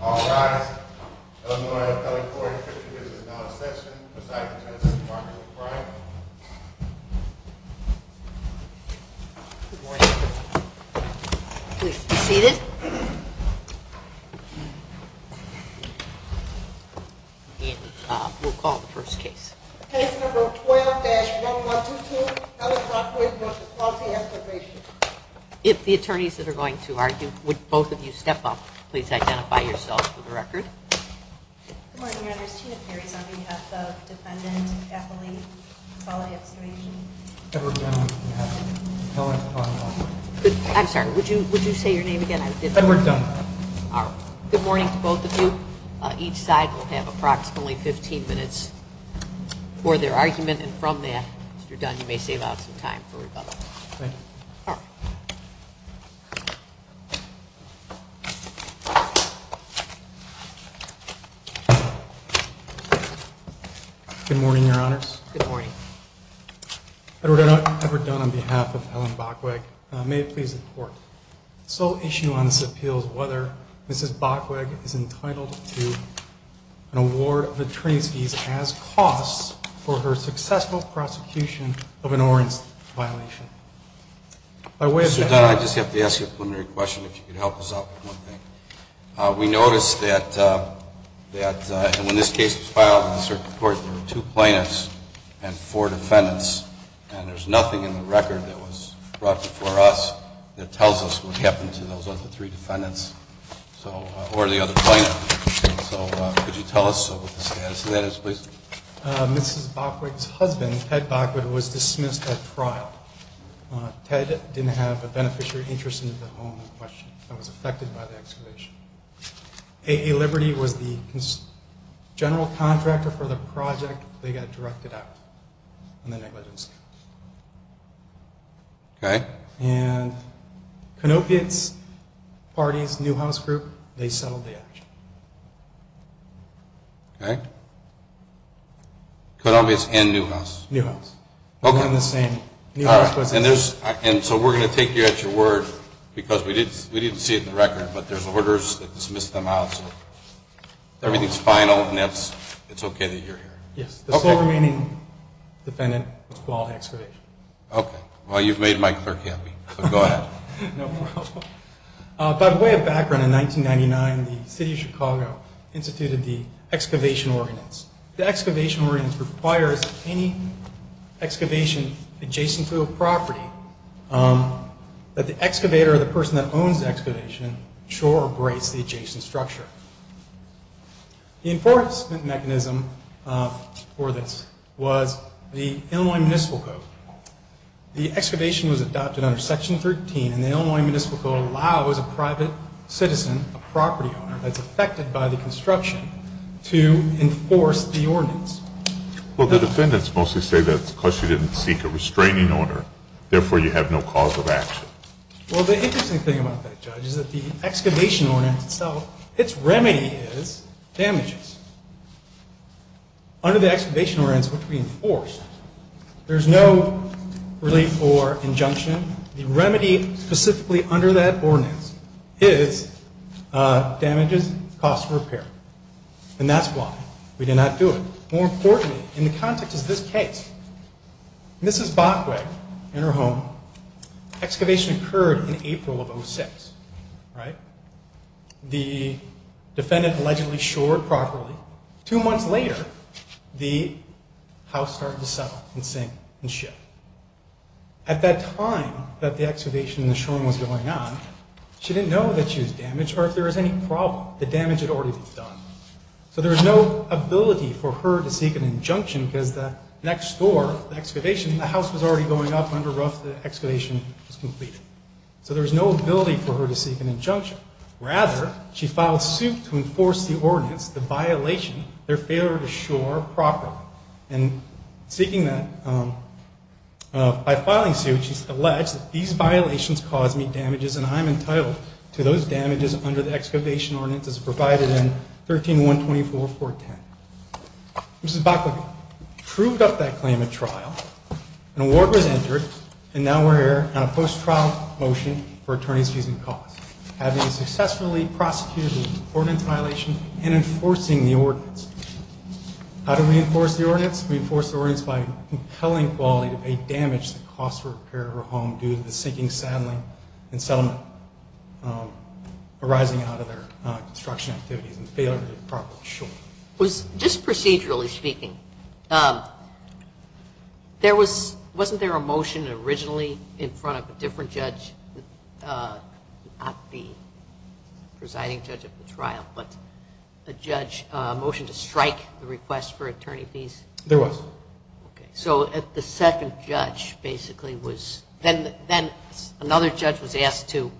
All rise. Illinois Appellate Court 50 years is now in session. Presiding Judge, Mark McBride. Good morning. Please be seated. We'll call the first case. Case number 12-1122, Ellicott Wood v. Quality Excavation. If the attorneys that are going to argue, would both of you step up, please identify yourselves for the record. Good morning, Your Honors. Tina Perry is on behalf of Defendant Appellate Quality Excavation. Edward Dunn on behalf of Appellate Quality Excavation. I'm sorry, would you say your name again? Edward Dunn. Good morning to both of you. Each side will have approximately 15 minutes for their argument, and from there, Mr. Dunn, you may save out some time for rebuttal. Thank you. Good morning, Your Honors. Good morning. Edward Dunn on behalf of Helen Bachweg. May it please the Court. The sole issue on this appeal is whether Mrs. Bachweg is entitled to an award of attorney's fees as costs for her successful prosecution of an orange violation. Mr. Dunn, I just have to ask you a preliminary question, if you could help us out with one thing. We noticed that when this case was filed in the circuit court, there were two plaintiffs and four defendants, and there's nothing in the record that was brought before us that tells us what happened to those other three defendants or the other plaintiff. So, could you tell us what the status of that is, please? Mrs. Bachweg's husband, Ted Bachweg, was dismissed at trial. Ted didn't have a beneficiary interest in the home in question and was affected by the excavation. A. A. Liberty was the general contractor for the project. They got directed out on the negligence count. Okay. And Konopiats' parties, Newhouse Group, they settled the action. Okay. Konopiats and Newhouse. Newhouse. Okay. And so we're going to take you at your word, because we didn't see it in the record, but there's orders that dismiss them out. Everything's final, and it's okay that you're here. Yes. The sole remaining defendant was called to excavation. Okay. Well, you've made my clerk happy, so go ahead. No problem. By way of background, in 1999, the City of Chicago instituted the excavation ordinance. The excavation ordinance requires that any excavation adjacent to a property, that the excavator or the person that owns the excavation, shore or brace the adjacent structure. The enforcement mechanism for this was the Illinois Municipal Code. The excavation was adopted under Section 13, and the Illinois Municipal Code allows a private citizen, a property owner that's affected by the construction, to enforce the ordinance. Well, the defendants mostly say that's because she didn't seek a restraining order, therefore you have no cause of action. Well, the interesting thing about that, Judge, is that the excavation ordinance itself, its remedy is damages. Under the excavation ordinance, which we enforce, there's no relief or injunction. The remedy specifically under that ordinance is damages, cost of repair. And that's why we did not do it. More importantly, in the context of this case, Mrs. Bachweg, in her home, excavation occurred in April of 06, right? The defendant allegedly shored properly. Two months later, the house started to settle and sink and shift. At that time that the excavation and the shoring was going on, she didn't know that she was damaged or if there was any problem. The damage had already been done. So there was no ability for her to seek an injunction because the next door, the excavation, the house was already going up under rough, the excavation was completed. So there was no ability for her to seek an injunction. Rather, she filed suit to enforce the ordinance, the violation, their failure to shore properly. And seeking that, by filing suit, she alleged that these violations caused me damages and I'm entitled to those damages under the excavation ordinance as provided in 13-124-410. Mrs. Bachweg proved up that claim at trial. An award was entered, and now we're here on a post-trial motion for attorneys using cause, having successfully prosecuted the ordinance violation and enforcing the ordinance. How do we enforce the ordinance? We enforce the ordinance by compelling quality to pay damage to the cost of repair of her home due to the sinking and settlement arising out of their construction activities and failure to properly shore. Just procedurally speaking, wasn't there a motion originally in front of a different judge, not the presiding judge of the trial, but a judge motion to strike the request for attorney fees? There was. Okay, so the second judge basically was, then another judge was asked to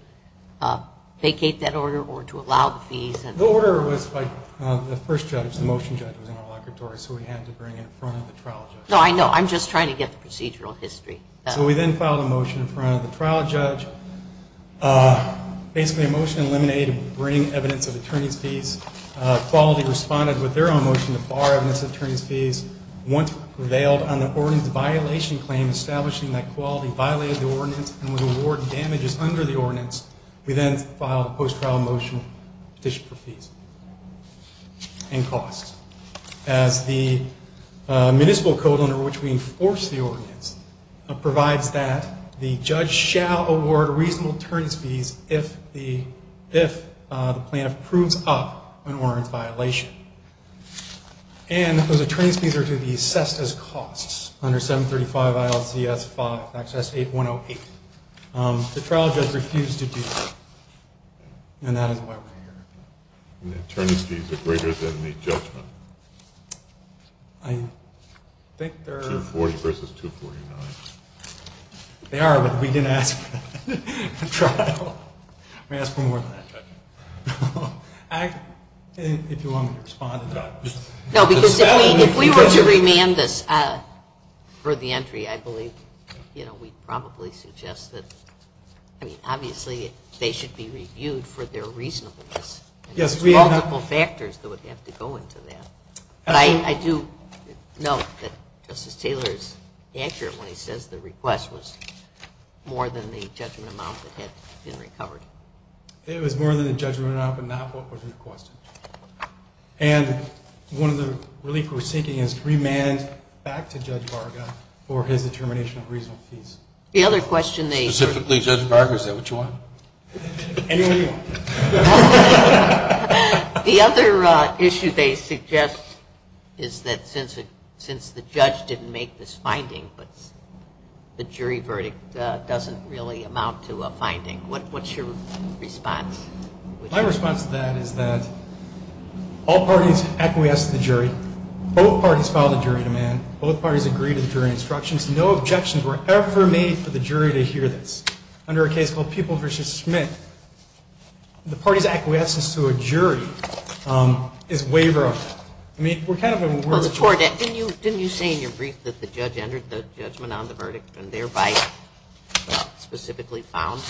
vacate that order or to allow the fees. The order was by the first judge, the motion judge was in our locatory, so we had to bring it in front of the trial judge. No, I know, I'm just trying to get the procedural history. So we then filed a motion in front of the trial judge, basically a motion to eliminate and bring evidence of attorney's fees. Quality responded with their own motion to bar evidence of attorney's fees. Once they bailed on the ordinance violation claim, establishing that quality violated the ordinance and would award damages under the ordinance, we then filed a post-trial motion petition for fees and costs. As the municipal code under which we enforce the ordinance provides that, the judge shall award reasonable attorney's fees if the plaintiff proves up an ordinance violation. And those attorney's fees are to be assessed as costs under 735 ILCS 5, Act 8108. The trial judge refused to do that, and that is why we're here. And the attorney's fees are greater than the judgment. I think they're 240 versus 249. They are, but we didn't ask for that. We asked for more than that. If you want me to respond to that. No, because if we were to remand this for the entry, I believe, you know, we'd probably suggest that, I mean, obviously they should be reviewed for their reasonableness. There's multiple factors that would have to go into that. But I do note that Justice Taylor is accurate when he says the request was more than the judgment amount that had been recovered. It was more than the judgment amount, but not what was requested. And one of the relief we're seeking is to remand back to Judge Varga for his determination of reasonable fees. Specifically, Judge Varga, is that what you want? Anyone you want. The other issue they suggest is that since the judge didn't make this finding, but the jury verdict doesn't really amount to a finding, what's your response? My response to that is that all parties acquiesce to the jury. Both parties filed a jury demand. Both parties agreed to the jury instructions. No objections were ever made for the jury to hear this. Under a case called Peoples v. Schmidt, the party's acquiescence to a jury is waiver of that. Didn't you say in your brief that the judge entered the judgment on the verdict and thereby specifically found?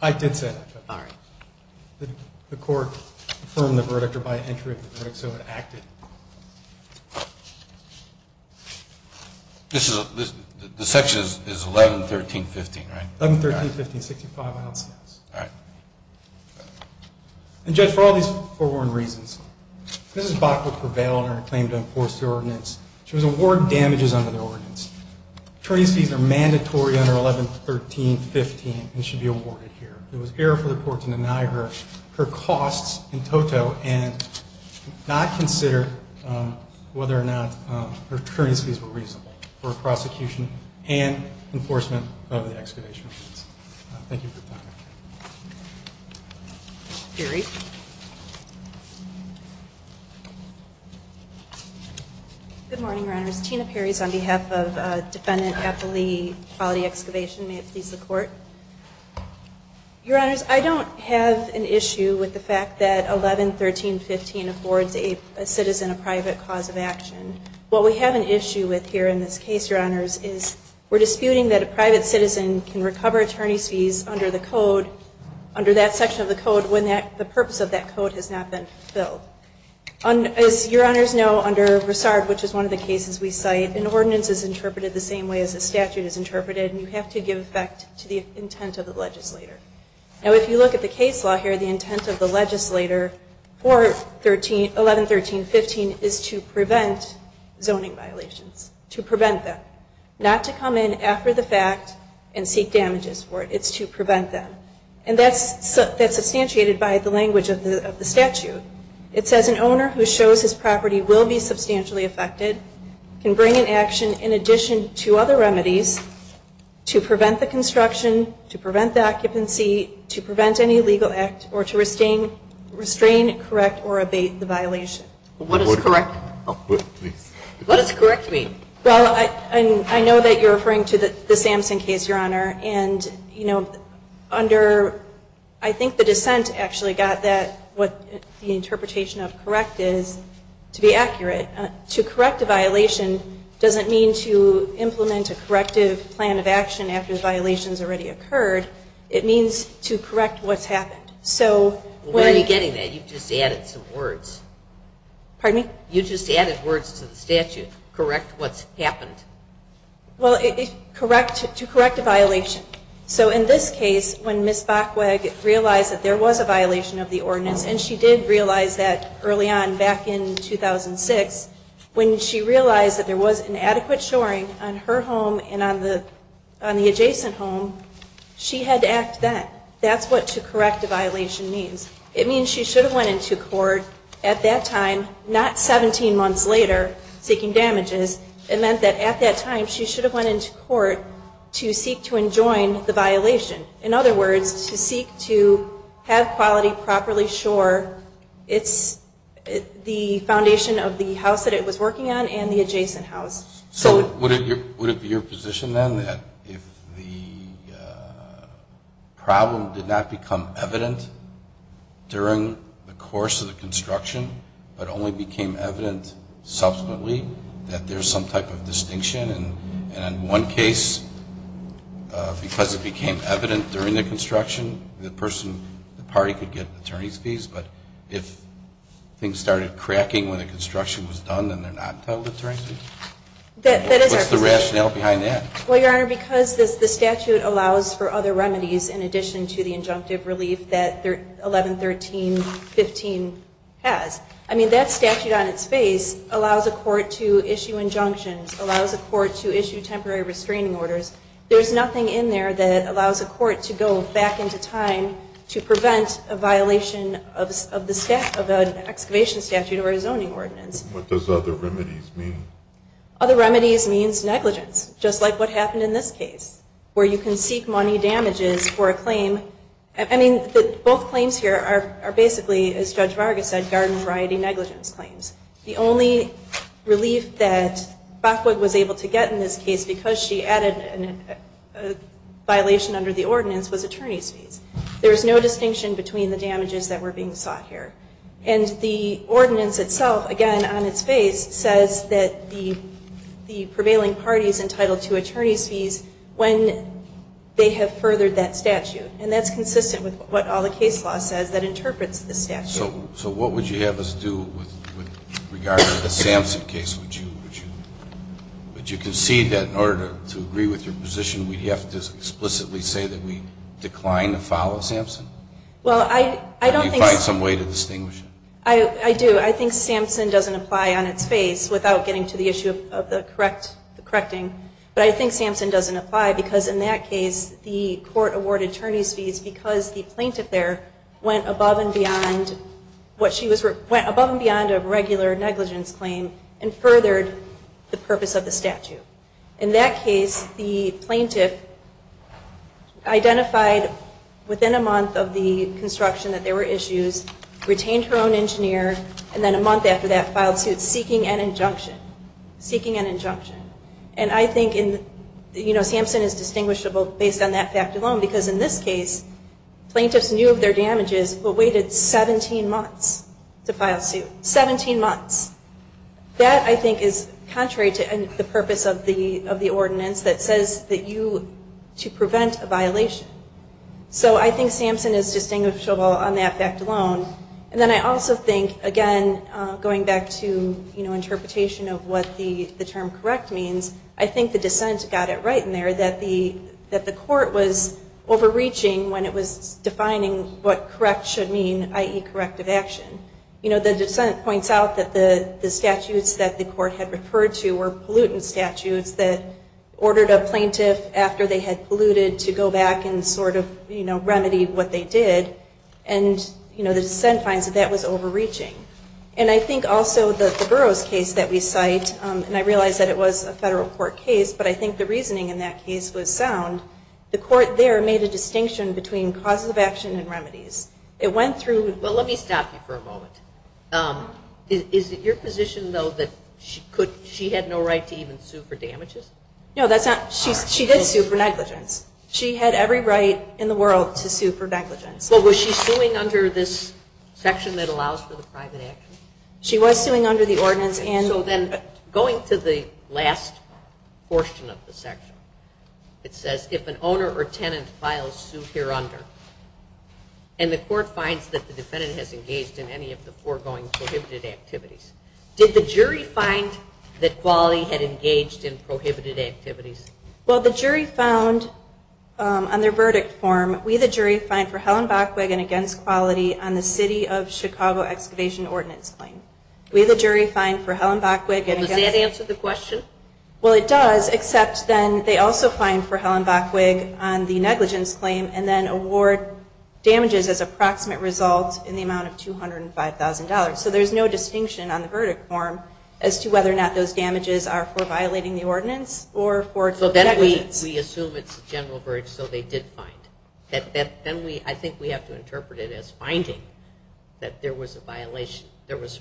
I did say that, Judge. All right. The court affirmed the verdict or by entry of the verdict, so it acted. The section is 11, 13, 15, right? 11, 13, 15, 65, I don't see that. All right. And, Judge, for all these forewarned reasons, Mrs. Bach will prevail in her claim to enforce the ordinance. She was awarded damages under the ordinance. Attorney's fees are mandatory under 11, 13, 15 and should be awarded here. It was error for the court to deny her her costs in toto and not consider whether or not her attorney's fees were reasonable for prosecution and enforcement of the excavation ordinance. Thank you for your time. Jerry. Good morning, Your Honors. Tina Perry is on behalf of Defendant Appley Quality Excavation. May it please the court. Your Honors, I don't have an issue with the fact that 11, 13, 15 affords a citizen a private cause of action. What we have an issue with here in this case, Your Honors, is we're disputing that a private citizen can recover attorney's fees under the code, under that section of the code, when the purpose of that code has not been fulfilled. As Your Honors know, under Broussard, which is one of the cases we cite, an ordinance is interpreted the same way as a statute is interpreted, and you have to give effect to the intent of the legislator. Now, if you look at the case law here, the intent of the legislator for 11, 13, 15 is to prevent zoning violations. To prevent them. Not to come in after the fact and seek damages for it. It's to prevent them. And that's substantiated by the language of the statute. It says an owner who shows his property will be substantially affected can bring an action in addition to other remedies to prevent the construction, to prevent the occupancy, to prevent any legal act, or to restrain, correct, or abate the violation. What does correct mean? Well, I know that you're referring to the Sampson case, Your Honor. And, you know, under, I think the dissent actually got that, what the interpretation of correct is, to be accurate. To correct a violation doesn't mean to implement a corrective plan of action after the violation has already occurred. It means to correct what's happened. So, when. Where are you getting that? You just added some words. Pardon me? You just added words to the statute. Correct what's happened. Well, correct, to correct a violation. So, in this case, when Ms. Bachweg realized that there was a violation of the ordinance, and she did realize that early on back in 2006, when she realized that there was inadequate shoring on her home and on the adjacent home, she had to act then. That's what to correct a violation means. It means she should have went into court at that time, not 17 months later, seeking damages. It meant that at that time she should have went into court to seek to enjoin the violation. In other words, to seek to have quality, properly shore. It's the foundation of the house that it was working on and the adjacent house. So, would it be your position then that if the problem did not become evident during the course of the construction, but only became evident subsequently, that there's some type of distinction? And in one case, because it became evident during the construction, the person, the party could get attorney's fees, but if things started cracking when the construction was done, then they're not held attorney's fees? That is our position. What's the rationale behind that? Well, Your Honor, because the statute allows for other remedies in addition to the injunctive relief that 1113.15 has. I mean, that statute on its face allows a court to issue injunctions, allows a court to issue temporary restraining orders. There's nothing in there that allows a court to go back into time to prevent a violation of an excavation statute or a zoning ordinance. What does other remedies mean? Other remedies means negligence, just like what happened in this case, where you can seek money damages for a claim. I mean, both claims here are basically, as Judge Vargas said, garden variety negligence claims. The only relief that Bachweg was able to get in this case, because she added a violation under the ordinance, was attorney's fees. There's no distinction between the damages that were being sought here. And the ordinance itself, again, on its face, says that the prevailing party is entitled to attorney's fees when they have furthered that statute. And that's consistent with what all the case law says that interprets the statute. So what would you have us do with regard to the Sampson case? Would you concede that in order to agree with your position, we'd have to explicitly say that we decline to follow Sampson? Well, I don't think so. Do you find some way to distinguish it? I do. I think Sampson doesn't apply on its face, without getting to the issue of the correcting. But I think Sampson doesn't apply, because in that case, the court awarded attorney's fees because the plaintiff there went above and beyond a regular negligence claim and furthered the purpose of the statute. In that case, the plaintiff identified within a month of the construction that there were issues, retained her own engineer, and then a month after that filed suit, seeking an injunction. Seeking an injunction. And I think Sampson is distinguishable based on that fact alone, because in this case, plaintiffs knew of their damages, but waited 17 months to file suit. 17 months. That, I think, is contrary to the purpose of the ordinance that says that you, to prevent a violation. So I think Sampson is distinguishable on that fact alone. And then I also think, again, going back to interpretation of what the term correct means, I think the dissent got it right in there, that the court was overreaching when it was defining what correct should mean, i.e. corrective action. You know, the dissent points out that the statutes that the court had referred to were pollutant statutes that ordered a plaintiff after they had polluted to go back and sort of, you know, remedy what they did. And, you know, the dissent finds that that was overreaching. And I think also the Burroughs case that we cite, and I realize that it was a federal court case, but I think the reasoning in that case was sound. The court there made a distinction between causes of action and remedies. It went through. Well, let me stop you for a moment. Is it your position, though, that she had no right to even sue for damages? No, that's not. She did sue for negligence. She had every right in the world to sue for negligence. Well, was she suing under this section that allows for the private action? She was suing under the ordinance. So then going to the last portion of the section, it says if an owner or tenant files suit here under, and the court finds that the defendant has engaged in any of the foregoing prohibited activities, did the jury find that Quali had engaged in prohibited activities? Well, the jury found on their verdict form, we, the jury, find for Helen Bachweg and against Quali on the city of Chicago excavation ordinance claim. We, the jury, find for Helen Bachweg and against Quali. Does that answer the question? Well, it does, except then they also find for Helen Bachweg on the negligence claim and then award damages as approximate results in the amount of $205,000. So there's no distinction on the verdict form as to whether or not those damages are for violating the ordinance or for negligence. So then we assume it's a general verge, so they did find. Then we, I think we have to interpret it as finding that there was a violation, there was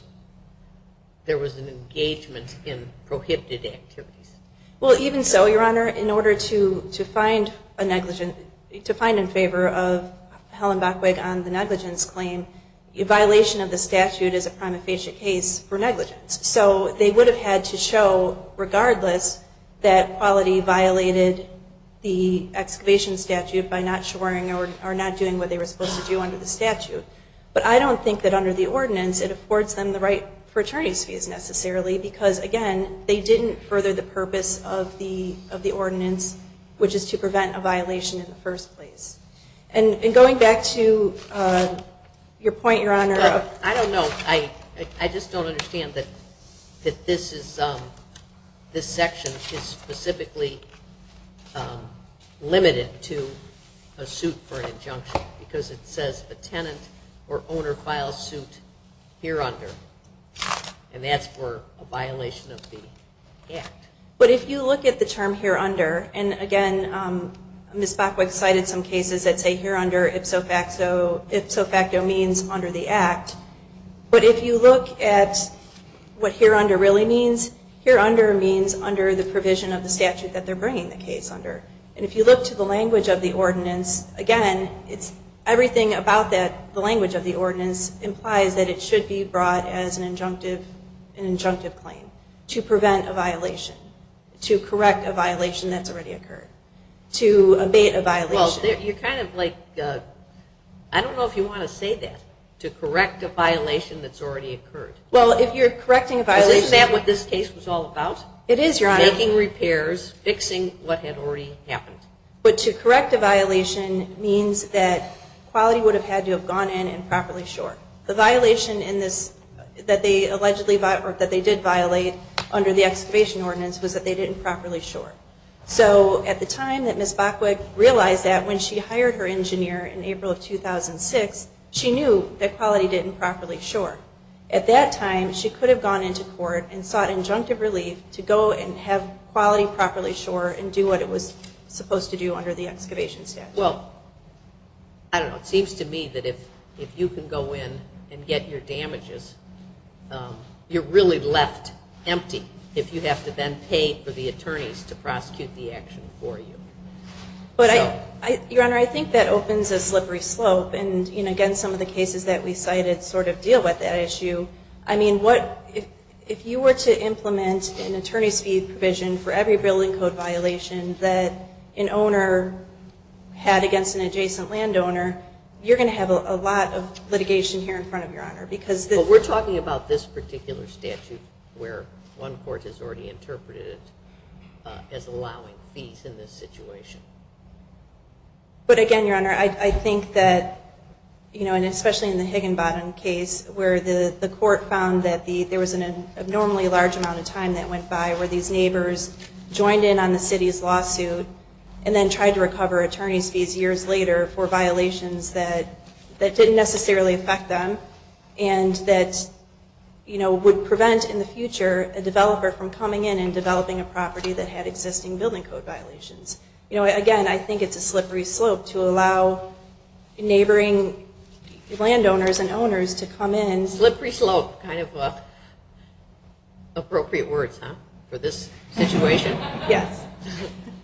an engagement in prohibited activities. Well, even so, Your Honor, in order to find a negligent, to find in favor of Helen Bachweg on the negligence claim, a violation of the statute is a prima facie case for negligence. So they would have had to show, regardless, that Quali violated the excavation statute by not shoring or not doing what they were supposed to do under the statute. But I don't think that under the ordinance it affords them the right for attorney's fees necessarily because, again, they didn't further the purpose of the ordinance, which is to prevent a violation in the first place. And going back to your point, Your Honor. I don't know. I just don't understand that this section is specifically limited to a suit for an injunction because it says a tenant or owner files suit here under, and that's for a violation of the act. But if you look at the term here under, and, again, Ms. Bachweg cited some cases that say here under ipso facto means under the act. But if you look at what here under really means, here under means under the provision of the statute that they're bringing the case under. And if you look to the language of the ordinance, again, it's everything about that, the language of the ordinance implies that it should be brought as an injunctive claim to prevent a violation, to correct a violation that's already occurred, to abate a violation. Well, you're kind of like, I don't know if you want to say that, to correct a violation that's already occurred. Well, if you're correcting a violation. Isn't that what this case was all about? It is, Your Honor. Making repairs, fixing what had already happened. But to correct a violation means that quality would have had to have gone in and properly short. The violation in this that they allegedly, or that they did violate under the excavation ordinance was that they didn't properly short. So at the time that Ms. Bachwick realized that when she hired her engineer in April of 2006, she knew that quality didn't properly short. At that time, she could have gone into court and sought injunctive relief to go and have quality properly short and do what it was supposed to do under the excavation statute. Well, I don't know. It seems to me that if you can go in and get your damages, you're really left empty if you have to then pay for the attorneys to prosecute the action for you. Your Honor, I think that opens a slippery slope. And, again, some of the cases that we cited sort of deal with that issue. I mean, if you were to implement an attorney's fee provision for every building code violation that an owner had against an adjacent landowner, you're going to have a lot of litigation here in front of Your Honor. But we're talking about this particular statute where one court has already interpreted it as allowing fees in this situation. But, again, Your Honor, I think that, you know, and especially in the Higginbottom case where the court found that there was an abnormally large amount of time that went by where these neighbors joined in on the city's lawsuit and then tried to recover attorney's fees years later for violations that didn't necessarily affect them and that, you know, would prevent in the future a developer from coming in and developing a property that had existing building code violations. You know, again, I think it's a slippery slope to allow neighboring landowners and owners to come in. Slippery slope. Kind of appropriate words, huh, for this situation? Yes.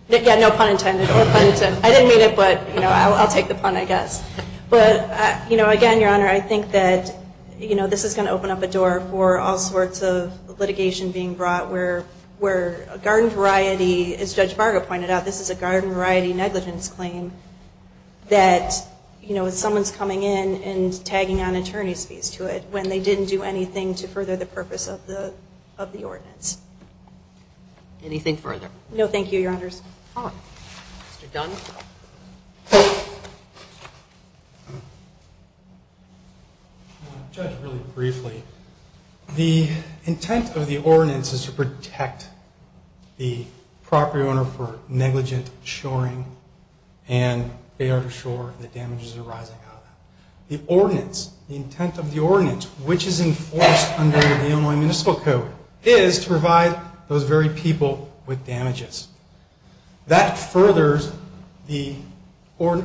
Yeah, no pun intended. I didn't mean it, but, you know, I'll take the pun, I guess. But, you know, again, Your Honor, I think that, you know, this is going to open up a door for all sorts of litigation being brought where a garden variety, as Judge Vargo pointed out, this is a garden variety negligence claim that, you know, someone's coming in and tagging on attorney's fees to it when they didn't do anything to further the purpose of the ordinance. Anything further? No, thank you, Your Honors. Mr. Dunn. I want to judge really briefly. The intent of the ordinance is to protect the property owner for negligent shoring and they are to shore the damages arising out of that. The ordinance, the intent of the ordinance, which is enforced under the Illinois Municipal Code, is to provide those very people with damages. That furthers the Illinois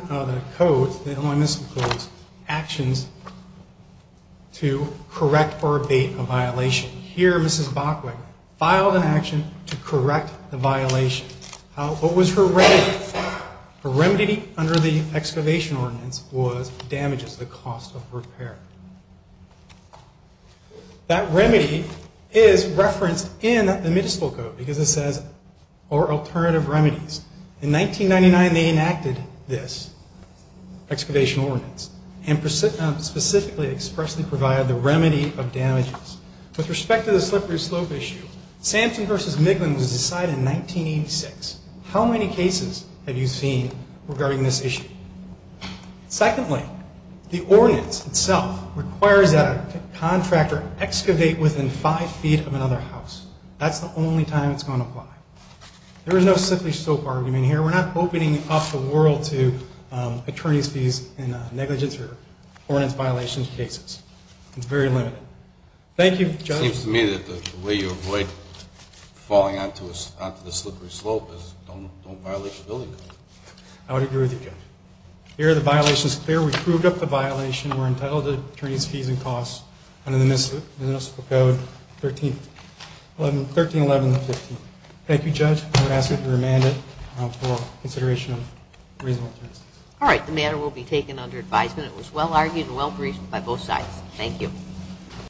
Municipal Code's actions to correct or abate a violation. Here, Mrs. Bachweg filed an action to correct the violation. What was her remedy? Her remedy under the excavation ordinance was damages, the cost of repair. That remedy is referenced in the Municipal Code because it says, or alternative remedies. In 1999, they enacted this excavation ordinance and specifically expressly provided the remedy of damages. With respect to the slippery slope issue, Samson v. Miglin was decided in 1986. How many cases have you seen regarding this issue? Secondly, the ordinance itself requires that a contractor excavate within five feet of another house. That's the only time it's going to apply. There is no slippery slope argument here. We're not opening up the world to attorney's fees in negligence or ordinance violation cases. It's very limited. Thank you, Judge. It seems to me that the way you avoid falling onto the slippery slope is don't violate the building code. I would agree with you, Judge. Here, the violation is clear. We proved up the violation. We're entitled to attorney's fees and costs under the Municipal Code 131115. Thank you, Judge. I would ask that you remand it for consideration of reasonable terms. All right. The matter will be taken under advisement. It was well argued and well briefed by both sides. Thank you.